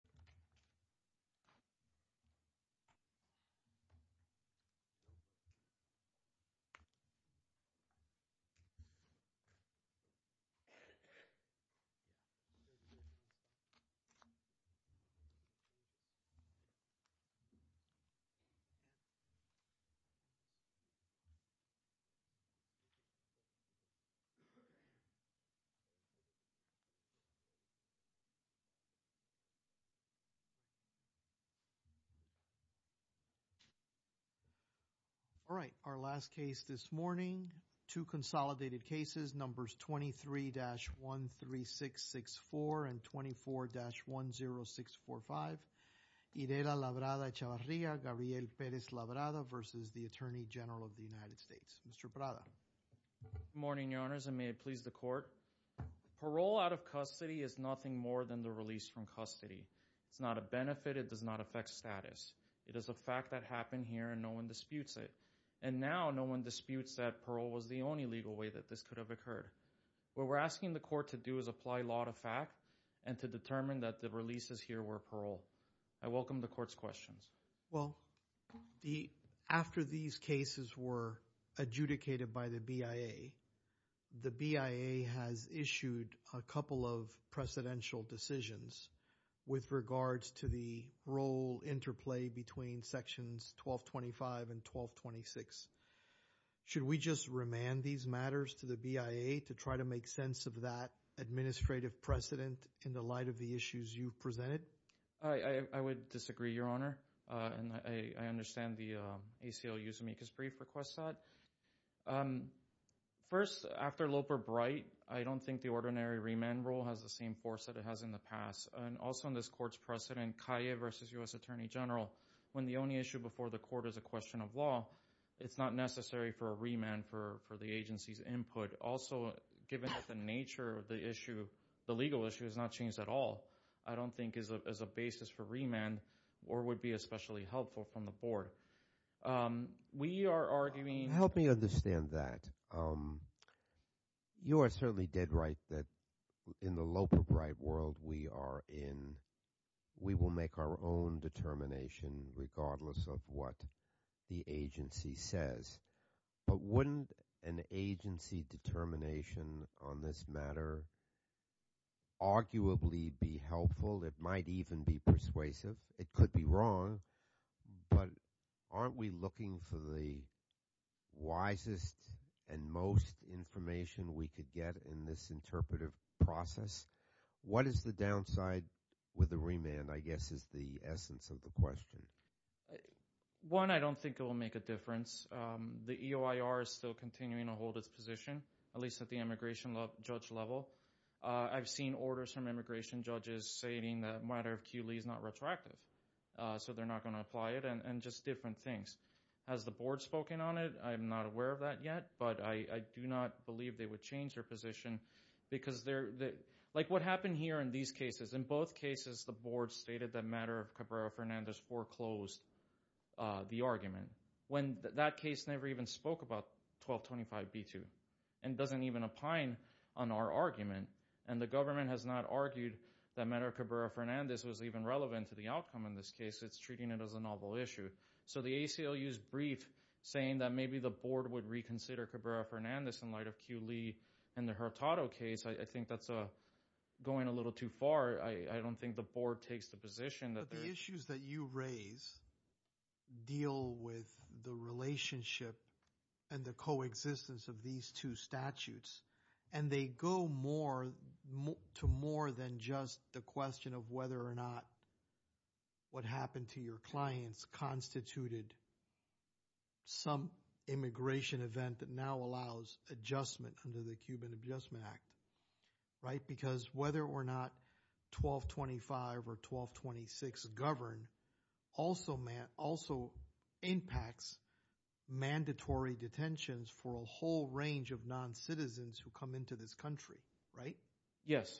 Gabriel Pérez Labrada v. U.S. Attorney General Good morning, Your Honors, and may it please the Court. Parole out of custody is nothing more than the release from custody. It's not a benefit. It does not affect status. It is a fact that happened here and no one disputes it. And now no one disputes that parole was the only legal way that this could have occurred. What we're asking the Court to do is apply law to fact and to determine that the releases here were parole. I welcome the Court's questions. Well, after these cases were adjudicated by the BIA, the BIA has issued a couple of precedential decisions with regards to the role interplay between Sections 1225 and 1226. Should we just remand these matters to the BIA to try to make sense of that administrative precedent in the light of the issues you've presented? I would disagree, Your Honor, and I understand the ACLU's amicus brief requests that. First, after Loper-Bright, I don't think the ordinary remand rule has the same force that it has in the past. And also in this Court's precedent, Calle v. U.S. Attorney General, when the only issue before the Court is a question of law, it's not necessary for a remand for the agency's input. Also, given the nature of the issue, the legal issue has not changed at all, I don't think, as a basis for remand or would be especially helpful from the Board. We are arguing... Help me understand that. You are certainly dead right that in the Loper-Bright world we are in, we will make our own determination regardless of what the agency says. But wouldn't an agency determination on this matter arguably be helpful? It might even be persuasive. It could be wrong. But aren't we looking for the wisest and most information we could get in this interpretive process? What is the downside with a remand, I guess, is the essence of the question. One, I don't think it will make a difference. The EOIR is still continuing to hold its position, at least at the immigration judge level. I've seen orders from immigration judges stating that a matter of QLE is not retroactive, so they're not going to apply it, and just different things. Has the Board spoken on it? I'm not aware of that yet, but I do not believe they would change their position because they're... Like what happened here in these cases, in both cases the Board stated that a matter of Cabrera-Fernandez foreclosed the argument, when that case never even spoke about 1225B2 and doesn't even opine on our argument. And the government has not argued that a matter of Cabrera-Fernandez was even relevant to the outcome in this case. It's treating it as a novel issue. So the ACLU's brief saying that maybe the Board would reconsider Cabrera-Fernandez in light of QLE and the Hurtado case, I think that's going a little too far. I don't think the Board takes the position that... But the issues that you raise deal with the relationship and the coexistence of these two statutes, and they go more to more than just the question of whether or not what happened to your clients constituted some immigration event that now allows adjustment under the Cuban Adjustment Act, right? Because whether or not 1225 or 1226 govern also impacts mandatory detentions for a whole range of non-citizens who come into this country, right? Yes.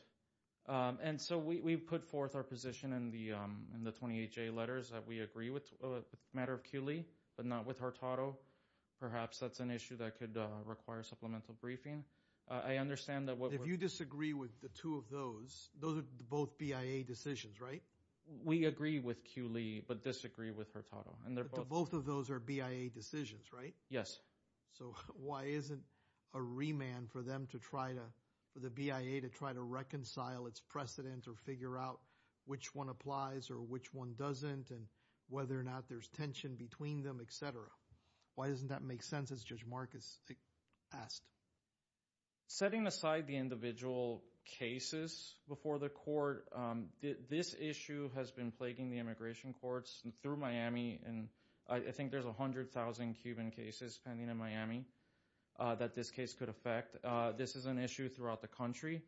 And so we've put forth our position in the 28-J letters that we agree with a matter of QLE, but not with Hurtado. Perhaps that's an issue that could require supplemental briefing. I understand that what... If you disagree with the two of those, those are both BIA decisions, right? We agree with QLE, but disagree with Hurtado, and they're both... But both of those are BIA decisions, right? Yes. So why isn't a remand for them to try to... For the BIA to try to reconcile its precedent or figure out which one applies or which one doesn't, and whether or not there's tension between them, et cetera? Why doesn't that make sense, as Judge Marcus asked? Setting aside the individual cases before the court, this issue has been plaguing the immigration courts through Miami, and I think there's 100,000 Cuban cases pending in Miami that this case could affect. This is an issue throughout the country.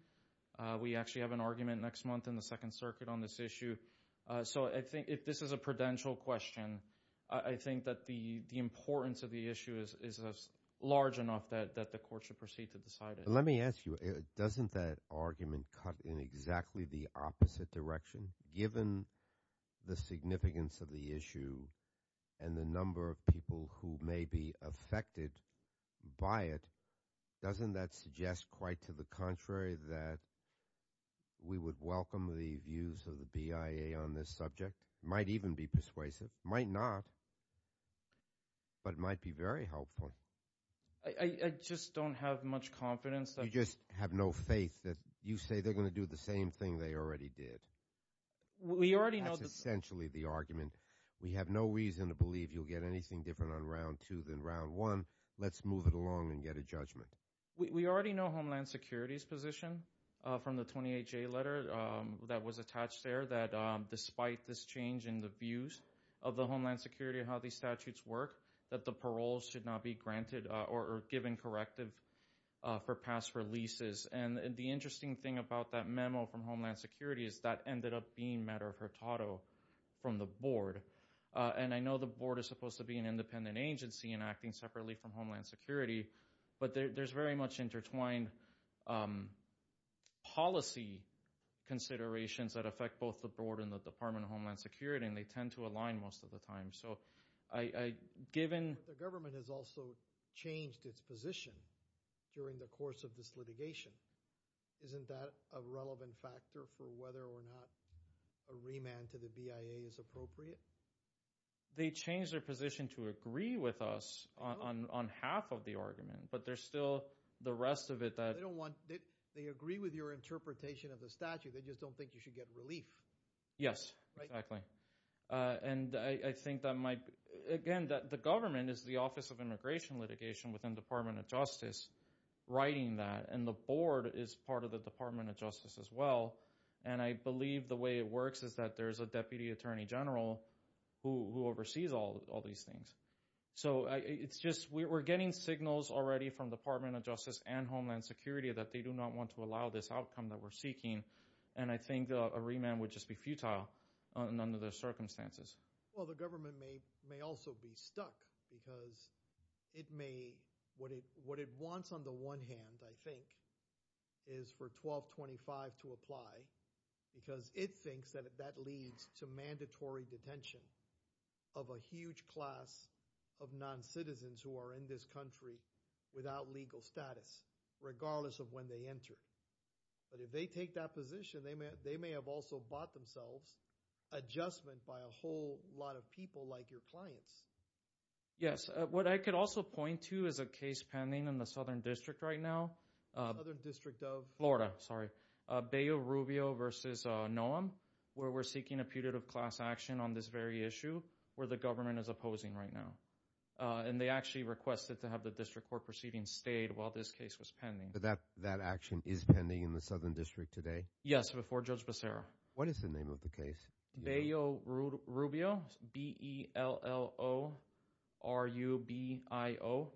We actually have an argument next month in the Second Circuit on this issue. So I think if this is a prudential question, I think that the importance of the issue is large enough that the court should proceed to decide it. Let me ask you, doesn't that argument cut in exactly the opposite direction? Given the significance of the issue and the number of people who may be affected by it, doesn't that suggest quite to the contrary that we would welcome the views of the BIA on this subject? Might even be persuasive. Might not, but might be very helpful. I just don't have much confidence that... You just have no faith that you say they're going to do the same thing they already did. We already know... That's essentially the argument. We have no reason to believe you'll get anything different on Round 2 than Round 1. Let's move it along and get a judgment. We already know Homeland Security's position from the 28-J letter that was attached there, that despite this change in the views of the Homeland Security and how these statutes work, that the parole should not be granted or given corrective for past releases. The interesting thing about that memo from Homeland Security is that ended up being matter of Hurtado from the board. I know the board is supposed to be an independent agency and acting separately from Homeland Security, but there's very much intertwined policy considerations that affect both the board and the Department of Homeland Security, and they tend to align most of the time. The government has also changed its position during the course of this litigation. Isn't that a relevant factor for whether or not a remand to the BIA is appropriate? They changed their position to agree with us on half of the argument, but there's still the rest of it that... They agree with your interpretation of the statute, they just don't think you should get relief. Yes, exactly. The government is the Office of Immigration Litigation within the Department of Justice writing that, and the board is part of the Department of Justice as well. I believe the way it works is that there's a Deputy Attorney General who oversees all these things. We're getting signals already from the Department of Justice and Homeland Security that they don't want to allow this outcome that we're seeking, and I think a remand would just be futile under those circumstances. Well, the government may also be stuck, because what it wants on the one hand, I think, is for 1225 to apply, because it thinks that that leads to mandatory detention of a huge class of non-citizens who are in this country without legal status, regardless of when they enter. But if they take that position, they may have also bought themselves adjustment by a whole lot of people like your clients. Yes. What I could also point to is a case pending in the Southern District right now. Southern District of? Florida, sorry. Bay of Rubio versus Noam, where we're seeking a putative class action on this very issue, where the government is opposing right now. And they actually requested to have the district court proceeding stayed while this case was pending. So that action is pending in the Southern District today? Yes, before Judge Becerra. What is the name of the case? Bay of Rubio, B-E-L-L-O-R-U-B-I-O,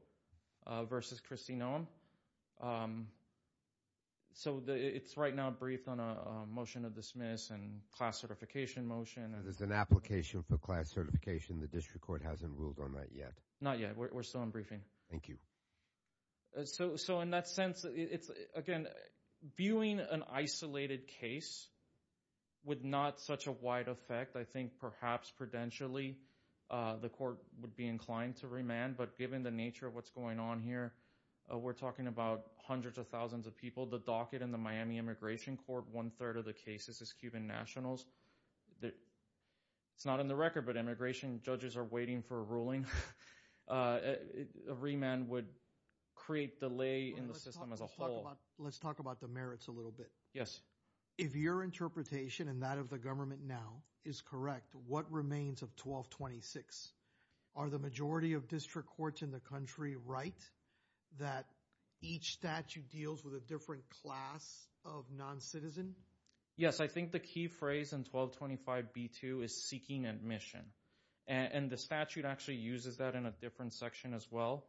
versus Kristi Noam. So it's right now briefed on a motion to dismiss and class certification motion. And there's an application for class certification the district court hasn't ruled on that yet? Not yet. We're still in briefing. Thank you. So in that sense, again, viewing an isolated case with not such a wide effect, I think perhaps prudentially the court would be inclined to remand. But given the nature of what's going on here, we're talking about hundreds of thousands of people. The docket in the Miami Immigration Court, one-third of the cases is Cuban nationals. It's not on the record, but immigration judges are waiting for a ruling. A remand would create delay in the system as a whole. Let's talk about the merits a little bit. Yes. If your interpretation and that of the government now is correct, what remains of 1226? Are the majority of district courts in the country right that each statute deals with a different class of non-citizen? Yes, I think the key phrase in 1225B2 is seeking admission. And the statute actually uses that in a different section as well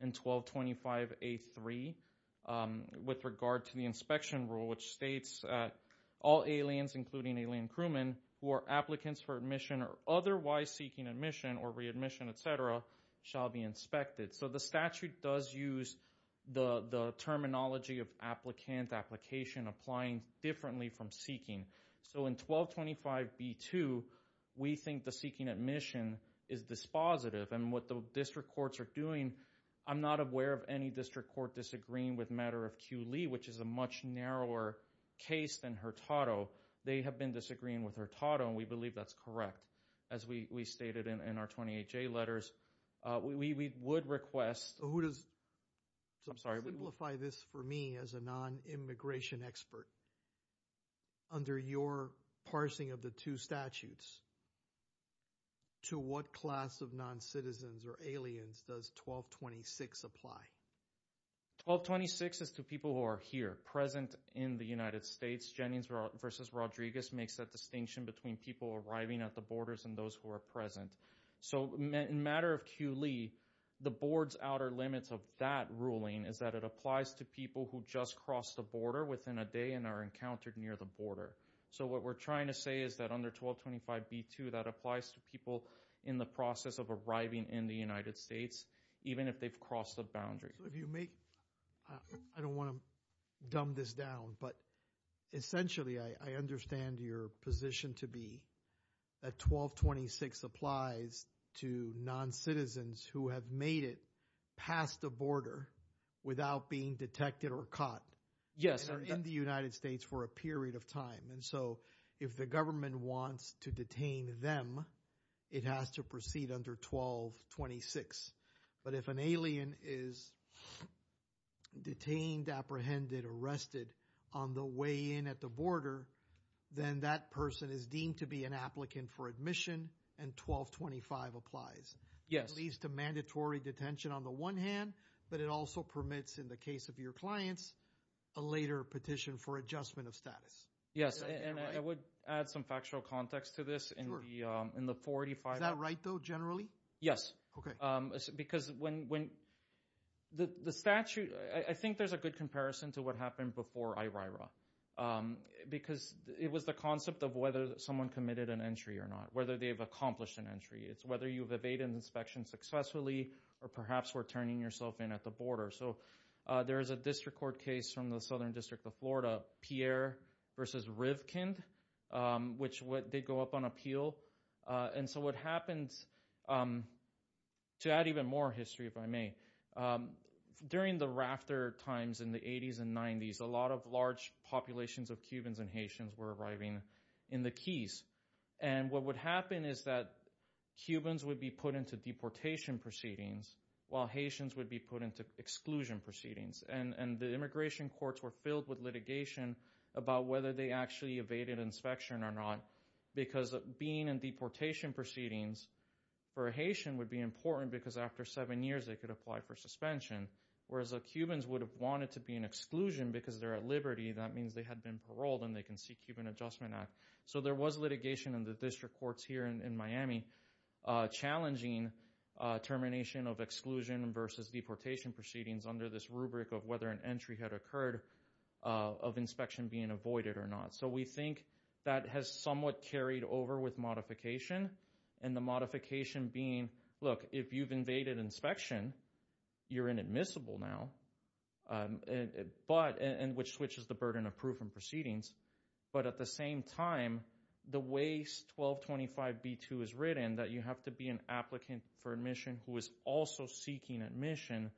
in 1225A3 with regard to the inspection rule, which states all aliens, including alien crewmen who are applicants for admission or otherwise seeking admission or readmission, et cetera, shall be inspected. So the statute does use the terminology of applicant, application, applying differently from seeking. So in 1225B2, we think the seeking admission is dispositive. And what the district courts are doing, I'm not aware of any district court disagreeing with matter of Q. Lee, which is a much narrower case than Hurtado. They have been disagreeing with Hurtado, and we believe that's correct. As we stated in our 28J letters, we would request... So who does... I'm sorry. Simplify this for me as a non-immigration expert. Under your parsing of the two statutes, to what class of non-citizens or aliens does 1226 apply? 1226 is to people who are here, present in the United States. Jennings v. Rodriguez makes that distinction between people arriving at the borders and those who are present. So in matter of Q. Lee, the board's outer limits of that ruling is that it applies to people who just crossed the border within a day and are encountered near the border. So what we're trying to say is that under 1225B2, that applies to people in the process of arriving in the United States, even if they've crossed the boundary. I don't want to dumb this down, but essentially I understand your position to be that 1226 applies to non-citizens who have made it past the border without being detected or caught and are in the United States for a period of time. And so if the government wants to detain them, it has to proceed under 1226. But if an alien is detained, apprehended, arrested on the way in at the border, then that person is deemed to be an applicant for admission and 1225 applies. It leads to mandatory detention on the one hand, but it also permits in the case of your clients a later petition for adjustment of status. Yes, and I would add some factual context to this in the 485. Is that right though, generally? Yes. Because when the statute, I think there's a good comparison to what happened before IRIRA because it was the concept of whether someone committed an entry or not, whether they've accomplished an entry. It's whether you've evaded inspection successfully or perhaps were turning yourself in at the border. So there is a district court case from the Southern versus Rivkind, which they go up on appeal. And so what happens, to add even more history if I may, during the rafter times in the 80s and 90s, a lot of large populations of Cubans and Haitians were arriving in the Keys. And what would happen is that Cubans would be put into deportation proceedings while Haitians would be put into exclusion proceedings. And the immigration courts were filled with litigation about whether they actually evaded inspection or not because being in deportation proceedings for a Haitian would be important because after seven years they could apply for suspension, whereas Cubans would have wanted to be in exclusion because they're at liberty. That means they had been paroled and they can seek Cuban Adjustment Act. So there was litigation in the district courts here in Miami challenging termination of exclusion versus deportation proceedings under this rubric of whether an entry had occurred of inspection being avoided or not. So we think that has somewhat carried over with modification. And the modification being, look, if you've evaded inspection, you're inadmissible now, which switches the burden of proven proceedings. But at the same time, the way 1225B2 is written, that you have to be an applicant for admission who is also seeking admission,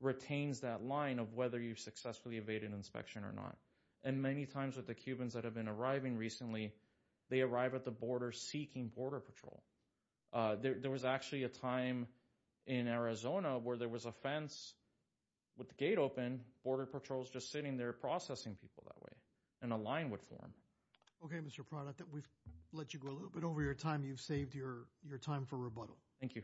retains that line of whether you've successfully evaded inspection or not. And many times with the Cubans that have been arriving recently, they arrive at the border seeking border patrol. There was actually a time in Arizona where there was a fence with the gate open, border patrols just sitting there processing people that way. And a line would form. Okay, Mr. Pranath, we've let you go a little bit over your time. You've saved your time for rebuttal. Thank you.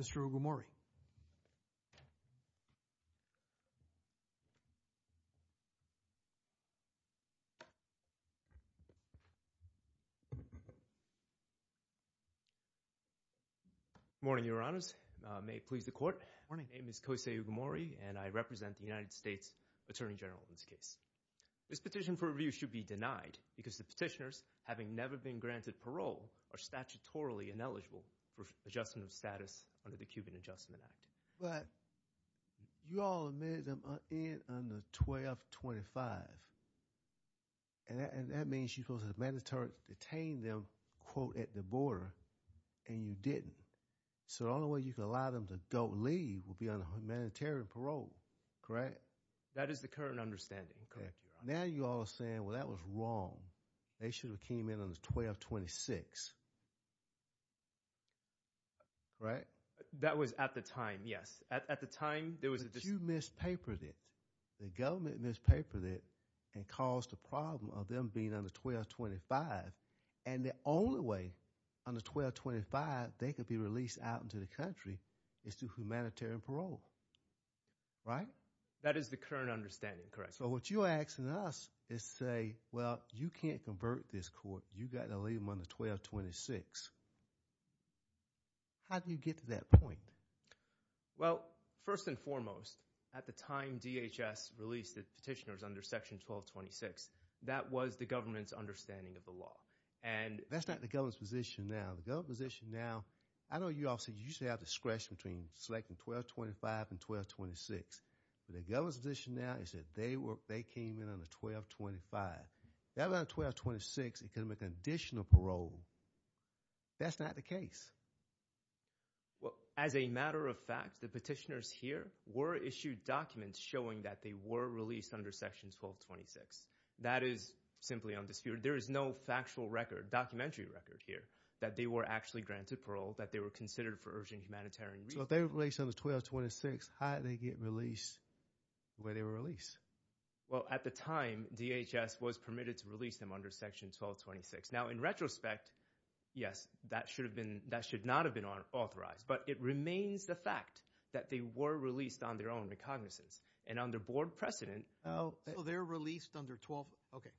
Okay. Mr. Ogumori. Good morning, Your Honor. I represent the United States Attorney General in this case. This petition for review should be denied because the petitioners, having never been granted parole, are statutorily ineligible for adjustment of status under the Cuban Adjustment Act. But you all admitted them in under 1225. And that means you supposed to have mandatory detained them, quote, at the border, and you didn't. So the only way you could allow them to go leave would be under humanitarian parole, correct? That is the current understanding, correct, Your Honor. Now you all are saying, well, that was wrong. They should have came in under 1226, correct? That was at the time, yes. At the time, there was a dispute. You mispapered it. The government mispapered it and caused the problem of them being under 1225. And the only way under 1225 they could be released out into the country is through humanitarian parole, right? That is the current understanding, correct. So what you're asking us is say, well, you can't convert this court. You got to leave them under 1226. How do you get to that point? Well, first and foremost, at the time DHS released the petitioners under section 1226, that was the government's understanding of the law. And that's not the government's position now. The government's position now, I know you all said you used to have discretion between selecting 1225 and 1226. But the government's position now is that they were, they came in under 1225. Now that 1226, it could have been conditional parole. That's not the case. Well, as a matter of fact, the petitioners here were issued documents showing that they were released under section 1226. That is simply undisputed. There is no factual record, documentary record here that they were actually granted parole, that they were considered for urgent humanitarian relief. So if they were released under 1226, how did they get released the way they were released? Well, at the time, DHS was permitted to release them under section 1226. Now in retrospect, yes, that should have been, that should not have been authorized. But it remains the fact that they were released on their own recognizance and under board precedent. So they're released under 12, okay.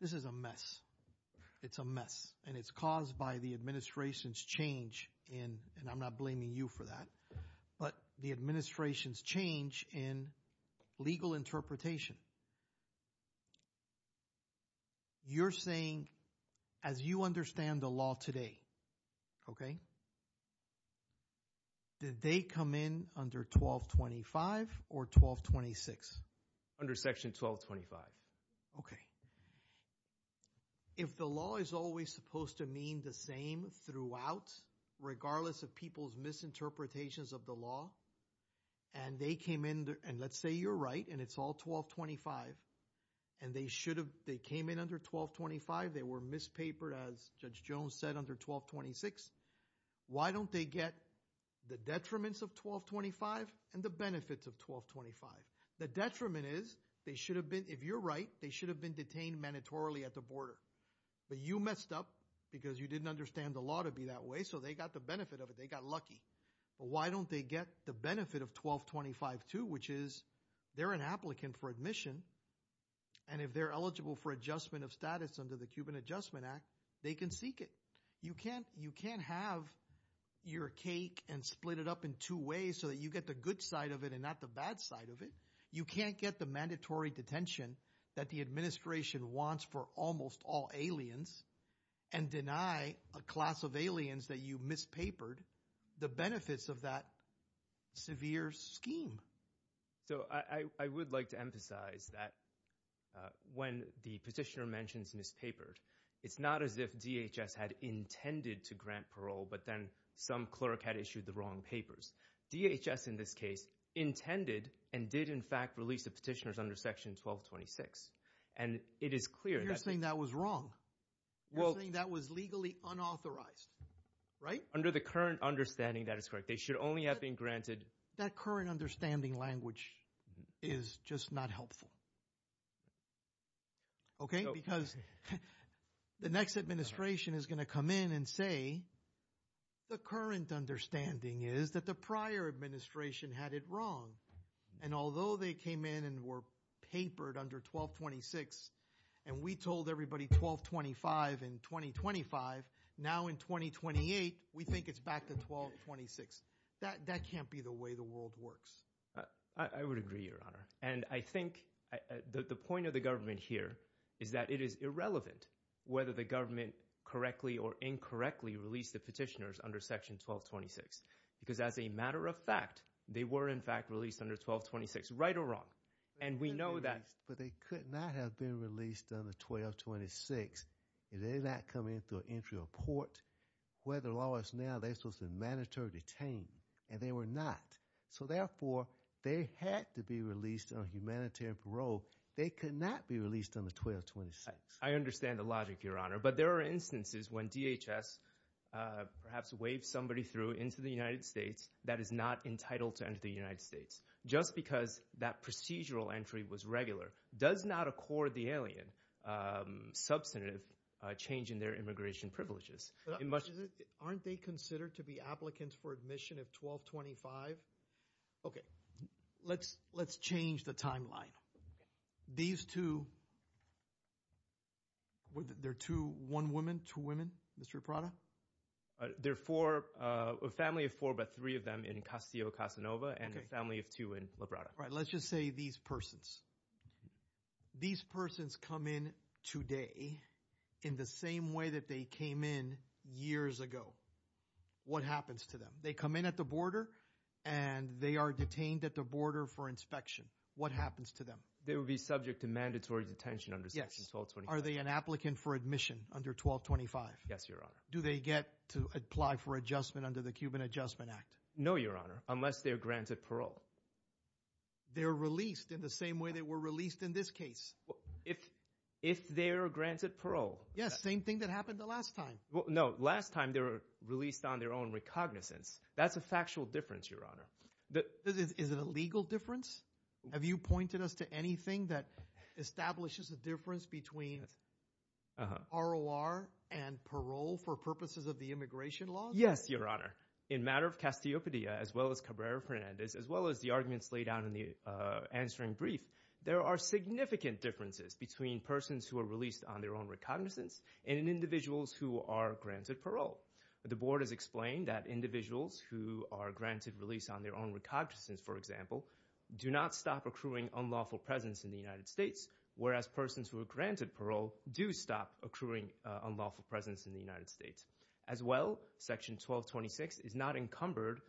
This is a mess. It's a mess. And it's caused by the administration's change in, and I'm not blaming you for that, but the administration's change in legal interpretation. You're saying, as you understand the law today, okay, did they come in under 1225 or 1226? Under section 1225. Okay. If the law is always supposed to mean the same throughout, regardless of people's misinterpretations of the law, and they came in, and let's say you're right, and it's all 1225, and they should have, they came in under 1225, they were mispapered, as Judge Jones said, under 1226, why don't they get the detriments of 1225 and the benefits of 1225? The detriment is, they should have been, if you're right, they should have been detained mandatorily at the border. But you messed up because you didn't understand the law to be that way, so they got the benefit of it. They got lucky. But why don't they get the benefit of 1225 too, which is, they're an applicant for admission, and if they're eligible for adjustment of status under the Cuban Adjustment Act, they can seek it. You can't have your cake and split it up in two ways so that you get the good side of it and not the bad side of it. You can't get the mandatory detention that the administration wants for almost all aliens and deny a class of aliens that you mispapered the benefits of that severe scheme. So I would like to emphasize that when the petitioner mentions mispapered, it's not as if DHS had intended to grant parole, but then some clerk had issued the wrong papers. DHS, in this case, intended and did, in fact, release the petitioners under Section 1226, and it is clear that... You're saying that was wrong. You're saying that was legally unauthorized, right? Under the current understanding, that is correct. They should only have been granted... That current understanding language is just not helpful. Okay? Because the next administration is going to come in and say, the current understanding is that the prior administration had it wrong, and although they came in and were papered under 1226, and we told everybody 1225 in 2025, now in 2028, we think it's back to 1226. That can't be the way the world works. I would agree, Your Honor, and I think the point of the government here is that it is irrelevant whether the government correctly or incorrectly released the petitioners under Section 1226, because as a matter of fact, they were, in fact, released under 1226, right or wrong, and we know that... But they could not have been released under 1226. If they did not come in through entry or port, where the law is now, they're supposed to be detained, and they were not. So therefore, they had to be released on humanitarian parole. They could not be released under 1226. I understand the logic, Your Honor, but there are instances when DHS perhaps waved somebody through into the United States that is not entitled to enter the United States, just because that procedural entry was regular, does not accord the alien substantive change in their immigration privileges. Aren't they considered to be applicants for admission of 1225? Okay, let's change the timeline. These two, they're two, one woman, two women, Mr. Labrada? There are four, a family of four, but three of them in Castillo-Casanova, and a family of two in Labrada. All right, let's just say these persons. These persons come in today in the same way that they came in years ago. What happens to them? They come in at the border, and they are detained at the border for inspection. What happens to them? They will be subject to mandatory detention under section 1225. Are they an applicant for admission under 1225? Yes, Your Honor. Do they get to apply for adjustment under the Cuban Adjustment Act? No, Your Honor, unless they're granted parole. They're released in the same way they were released in this case? If they are granted parole. Yes, same thing that happened the last time. No, last time they were released on their own recognizance. That's a factual difference, Your Honor. Is it a legal difference? Have you pointed us to anything that establishes a difference between ROR and parole for purposes of the immigration laws? Yes, Your Honor. In matter of Castillo-Casanova, as well as Cabrera-Fernandez, as well as the arguments laid out in the answering brief, there are significant differences between persons who are released on their own recognizance and individuals who are granted parole. The board has explained that individuals who are granted release on their own recognizance, for example, do not stop accruing unlawful presence in the United States, whereas persons who are granted parole do stop accruing unlawful presence in the United States. As well, Section 1226 is not encumbered,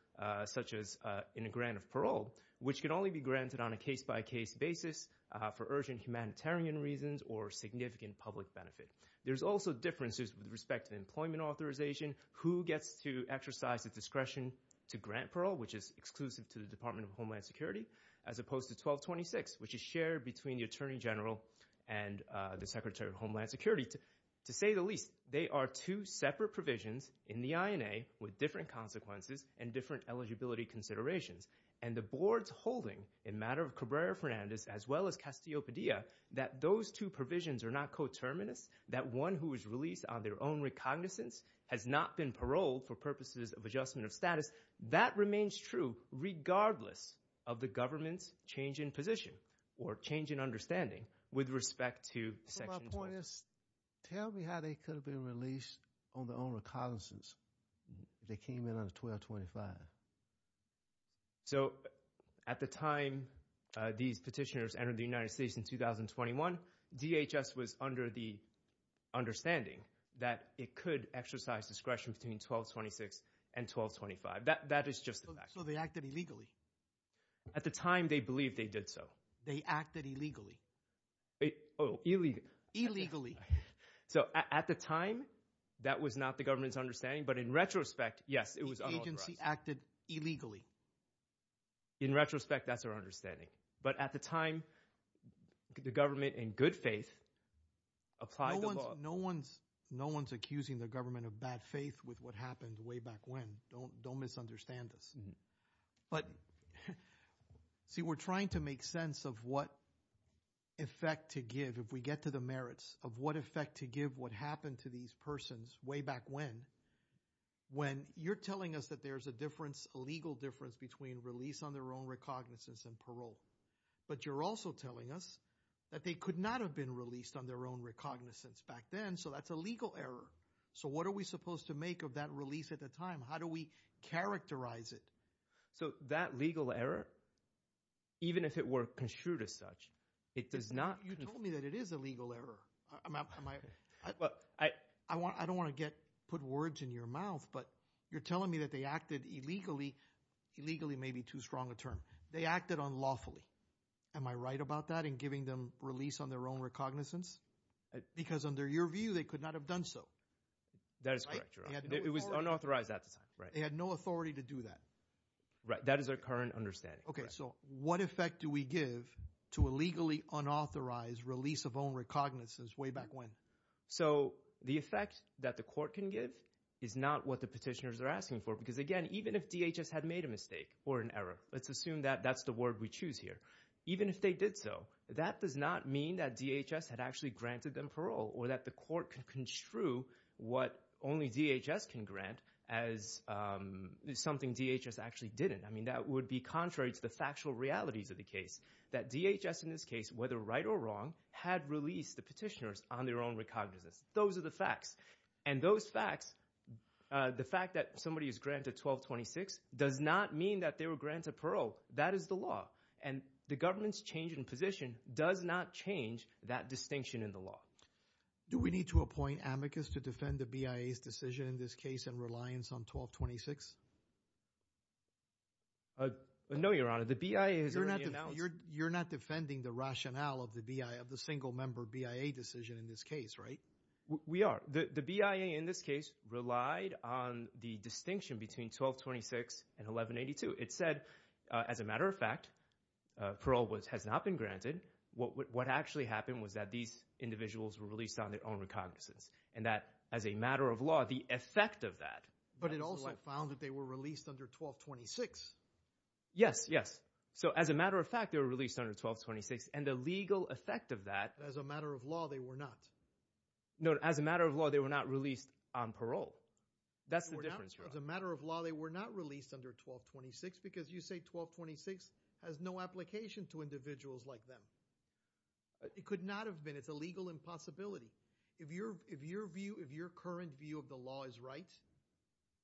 such as in a grant of parole, which can only be granted on a case-by-case basis for urgent humanitarian reasons or significant public benefit. There's also differences with respect to employment authorization, who gets to exercise the discretion to grant parole, which is exclusive to the Department of Homeland Security, as opposed to 1226, which is shared between the Attorney General and the Secretary of Homeland Security. To say the least, they are two separate provisions in the INA with different consequences and different eligibility considerations. And the board's holding, in matter of Cabrera-Fernandez, as well as Castillo-Padilla, that those two provisions are not coterminous, that one who is released on their own recognizance has not been paroled for purposes of adjustment of status. That remains true regardless of the government's change in position or change in understanding with respect to Section 1226. Tell me how they could have been released on their own recognizance if they came in under 1225. So, at the time these petitioners entered the United States in 2021, DHS was under the understanding that it could exercise discretion between 1226 and 1225. That is just a fact. So they acted illegally? At the time, they believed they did so. They acted illegally? Oh, illegally. Illegally. So, at the time, that was not the government's understanding. But in retrospect, yes, it was unauthorized. The agency acted illegally. In retrospect, that's our understanding. But at the time, the government, in good faith, applied the law. No one's accusing the government of bad faith with what happened way back when. Don't misunderstand us. But, see, we're trying to make sense of what effect to give. If we get to the merits of what effect to give what happened to these persons way back when, when you're telling us that there's a difference, a legal difference, between release on their own recognizance and parole. But you're also telling us that they could not have been released on their own recognizance back then. So that's a legal error. So what are we supposed to make of that release at the time? How do we characterize it? So that legal error, even if it were construed as such, it does not— You told me that it is a legal error. I don't want to put words in your mouth, but you're telling me that they acted illegally. Illegally may be too strong a term. They acted unlawfully. Am I right about that in giving them release on their own recognizance? Because under your view, they could not have done so. That is correct. It was unauthorized at the time. They had no authority to do that. Right. That is our current understanding. So what effect do we give to a legally unauthorized release of own recognizance way back when? So the effect that the court can give is not what the petitioners are asking for. Because again, even if DHS had made a mistake or an error, let's assume that that's the word we choose here. Even if they did so, that does not mean that DHS had actually granted them parole or that the court could construe what only DHS can grant as something DHS actually didn't. I mean, that would be contrary to the factual realities of the case. That DHS in this case, whether right or wrong, had released the petitioners on their own recognizance. Those are the facts. And those facts, the fact that somebody is granted 1226 does not mean that they were granted parole. That is the law. And the government's change in position does not change that distinction in the law. Do we need to appoint amicus to defend the BIA's decision in this case and reliance on 1226? No, Your Honor. The BIA has already announced— You're not defending the rationale of the single-member BIA decision in this case, right? We are. The BIA in this case relied on the distinction between 1226 and 1182. It said, as a matter of fact, parole has not been granted. What actually happened was that these individuals were released on their own recognizance. And that, as a matter of law, the effect of that— But it also found that they were released under 1226. Yes, yes. So as a matter of fact, they were released under 1226. And the legal effect of that— As a matter of law, they were not. No, as a matter of law, they were not released on parole. That's the difference, Your Honor. As a matter of law, they were not released under 1226 because you say 1226 has no application to individuals like them. It could not have been. It's a legal impossibility. If your view, if your current view of the law is right,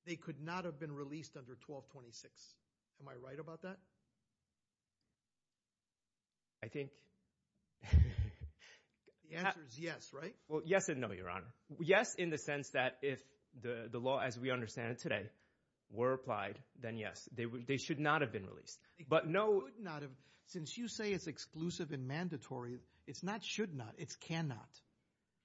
they could not have been released under 1226. Am I right about that? I think— The answer is yes, right? Well, yes and no, Your Honor. Yes in the sense that if the law as we understand it today were applied, then yes, they should not have been released. But no— They could not have. Since you say it's exclusive and mandatory, it's not should not. It's cannot.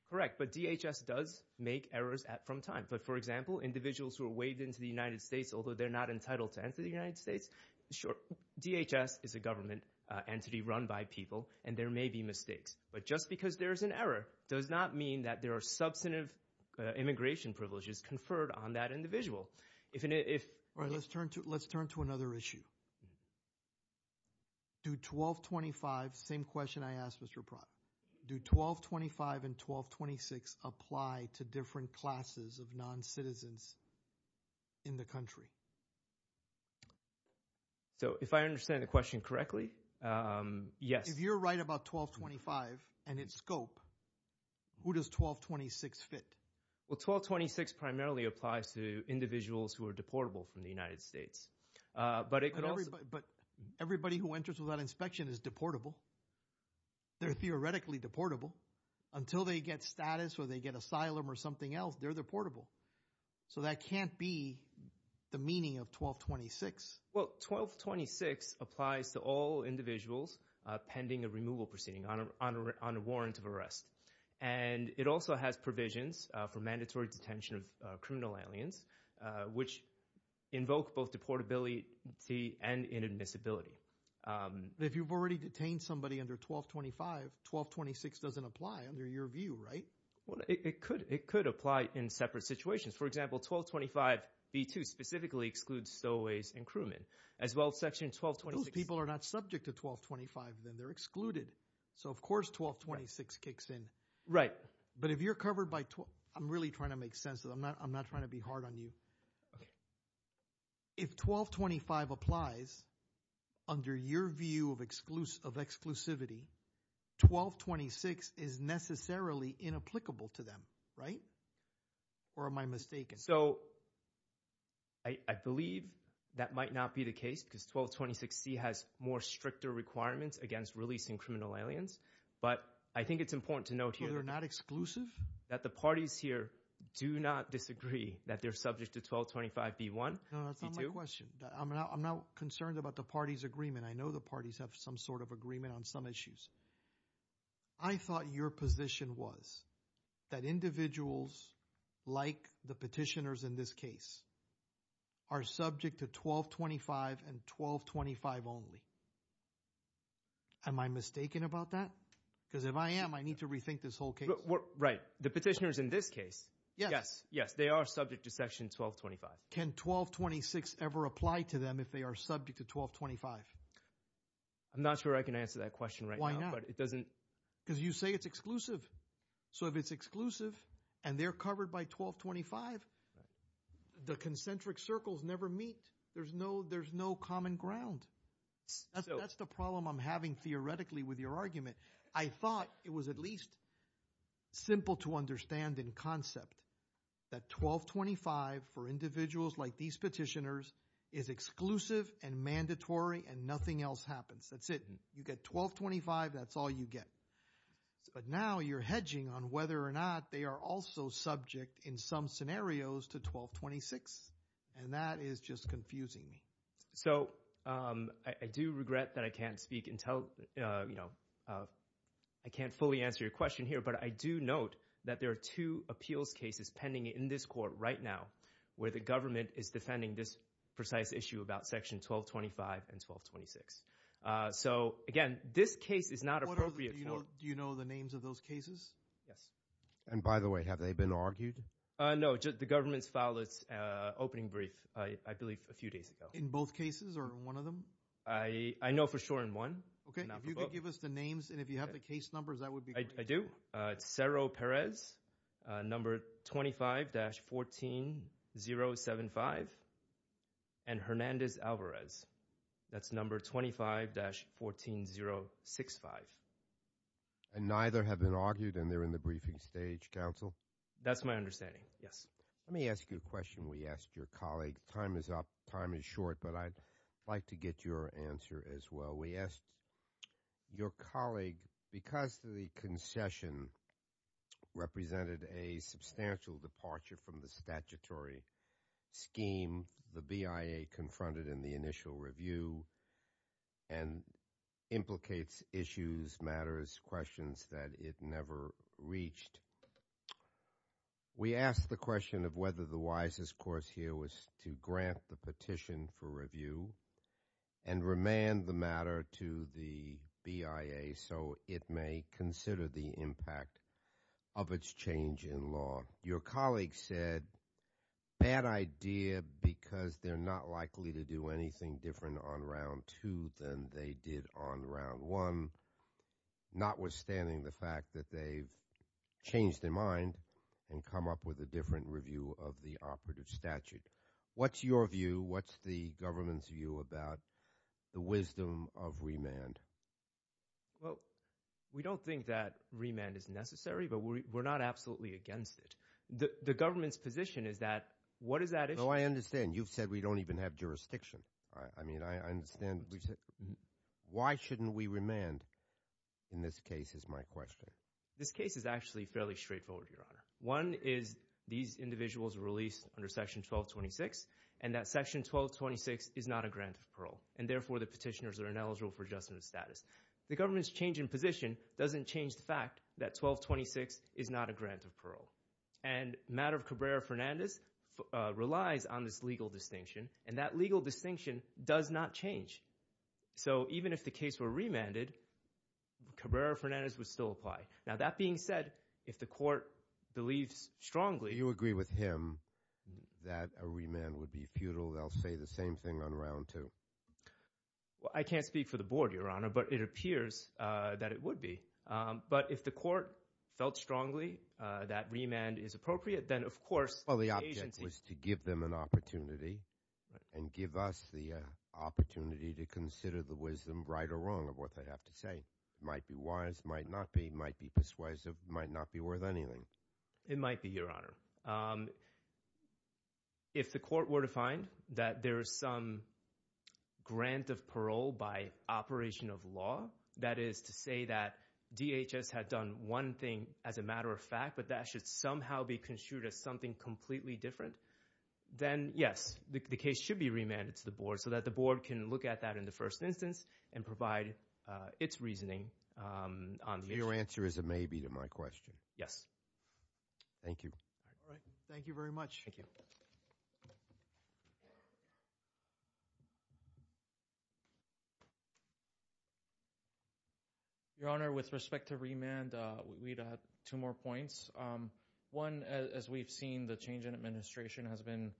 Correct. But DHS does make errors from time. But for example, individuals who are waived into the United States, although they're not entitled to enter the United States, sure, DHS is a government entity run by people, and there may be mistakes. But just because there's an error does not mean that there are substantive immigration privileges conferred on that individual. If— All right. Let's turn to another issue. Do 1225—same question I asked, Mr. Pratt—do 1225 and 1226 apply to different classes of non-citizens in the country? So if I understand the question correctly, yes. If you're right about 1225 and its scope, who does 1226 fit? Well, 1226 primarily applies to individuals who are deportable from the United States. But it could also— But everybody who enters without inspection is deportable. They're theoretically deportable. Until they get status or they get asylum or something else, they're deportable. So that can't be the meaning of 1226. Well, 1226 applies to all individuals pending a removal proceeding on a warrant of arrest. And it also has provisions for mandatory detention of criminal aliens, which invoke both deportability and inadmissibility. If you've already detained somebody under 1225, 1226 doesn't apply under your view, right? Well, it could. It could apply in separate situations. For example, 1225 v. 2 specifically excludes stowaways and crewmen, as well as Section 1226— But those people are not subject to 1225, then. They're excluded. So of course 1226 kicks in. Right. But if you're covered by—I'm really trying to make sense of it. I'm not trying to be hard on you. If 1225 applies under your view of exclusivity, 1226 is necessarily inapplicable to them, right? Or am I mistaken? So I believe that might not be the case because 1226C has more stricter requirements against releasing criminal aliens. But I think it's important to note here— So they're not exclusive? —that the parties here do not disagree that they're subject to 1225 v. 1. No, that's not my question. I'm not concerned about the parties' agreement. I know the parties have some sort of agreement on some issues. I thought your position was that individuals, like the petitioners in this case, are subject to 1225 and 1225 only. Am I mistaken about that? Because if I am, I need to rethink this whole case. Right. The petitioners in this case, yes, they are subject to Section 1225. Can 1226 ever apply to them if they are subject to 1225? I'm not sure I can answer that question right now, but it doesn't— Because you say it's exclusive. So if it's exclusive and they're covered by 1225, the concentric circles never meet. There's no common ground. That's the problem I'm having theoretically with your argument. I thought it was at least simple to understand in concept that 1225 for individuals like these petitioners is exclusive and mandatory and nothing else happens. That's it. You get 1225, that's all you get. But now you're hedging on whether or not they are also subject in some scenarios to 1226, and that is just confusing me. So I do regret that I can't speak until—you know, I can't fully answer your question here, but I do note that there are two appeals cases pending in this court right now, where the government is defending this precise issue about Section 1225 and 1226. So again, this case is not appropriate for— Do you know the names of those cases? Yes. And by the way, have they been argued? No, the government's filed its opening brief, I believe, a few days ago. In both cases or one of them? I know for sure in one. OK. If you could give us the names and if you have the case numbers, that would be great. I do. It's Cerro Perez, number 25-14075, and Hernandez-Alvarez, that's number 25-14065. And neither have been argued and they're in the briefing stage, counsel? That's my understanding, yes. Let me ask you a question we asked your colleague. Time is up, time is short, but I'd like to get your answer as well. We asked your colleague, because the concession represented a substantial departure from the statutory scheme the BIA confronted in the initial review and implicates issues, matters, questions that it never reached. We asked the question of whether the wisest course here was to grant the petition for review and remand the matter to the BIA so it may consider the impact of its change in law. Your colleague said, bad idea because they're not likely to do anything different on round two than they did on round one, notwithstanding the fact that they've changed their mind and come up with a different review of the operative statute. What's your view? What's the government's view about the wisdom of remand? Well, we don't think that remand is necessary, but we're not absolutely against it. The government's position is that, what is that issue? No, I understand. You've said we don't even have jurisdiction, right? I mean, I understand. Why shouldn't we remand in this case is my question. This case is actually fairly straightforward, Your Honor. One is these individuals were released under Section 1226, and that Section 1226 is not a grant of parole, and therefore the petitioners are ineligible for adjustment of status. The government's change in position doesn't change the fact that 1226 is not a grant of parole. And the matter of Cabrera-Fernandez relies on this legal distinction, and that legal distinction does not change. So even if the case were remanded, Cabrera-Fernandez would still apply. Now, that being said, if the court believes strongly— Do you agree with him that a remand would be futile? They'll say the same thing on round two. I can't speak for the board, Your Honor, but it appears that it would be. But if the court felt strongly that remand is appropriate, then of course— Well, the object was to give them an opportunity and give us the opportunity to consider the wisdom, right or wrong, of what they have to say. Might be wise, might not be, might be persuasive, might not be worth anything. It might be, Your Honor. If the court were to find that there is some grant of parole by operation of law, that is to say that DHS had done one thing as a matter of fact, but that should somehow be construed as something completely different, then, yes, the case should be remanded to the board so that the board can look at that in the first instance and provide its reasoning on the issue. Your answer is a maybe to my question. Yes. Thank you. Thank you very much. Your Honor, with respect to remand, we'd have two more points. One, as we've seen, the change in administration has been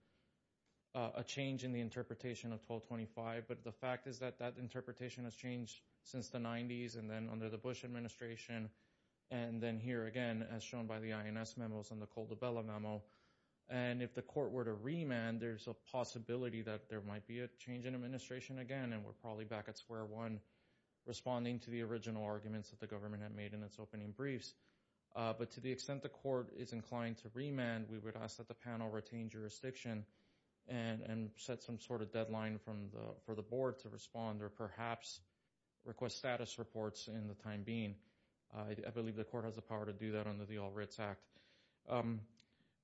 a change in the interpretation of 1225. But the fact is that that interpretation has changed since the 90s and then under the Bush administration, and then here again, as shown by the INS memos and the Caldebella memo. And if the court were to remand, there's a possibility that there might be a change in administration again, and we're probably back at square one, responding to the original arguments that the government had made in its opening briefs. But to the extent the court is inclined to remand, we would ask that the panel retain jurisdiction and set some sort of deadline for the board to respond or perhaps request status reports in the time being. I believe the court has the power to do that under the All Writs Act.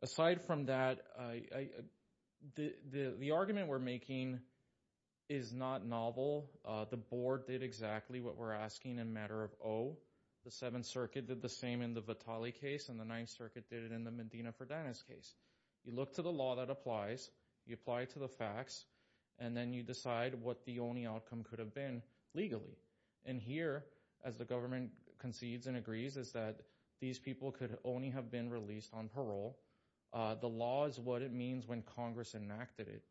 Aside from that, the argument we're making is not novel. The board did exactly what we're asking in matter of O. The Seventh Circuit did the same in the Vitale case and the Ninth Circuit did it in the Medina-Ferdinand case. You look to the law that applies, you apply to the facts, and then you decide what the only outcome could have been legally. And here, as the government concedes and agrees, is that these people could only have been released on parole. The law is what it means when Congress enacted it,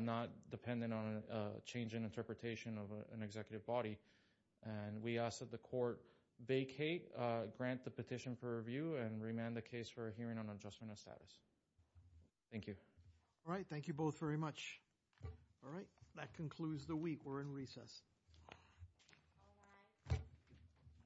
not dependent on a change in interpretation of an executive body. And we ask that the court vacate, grant the petition for review, and remand the case for a hearing on adjustment of status. Thank you. All right, thank you both very much. All right, that concludes the week. We're in recess.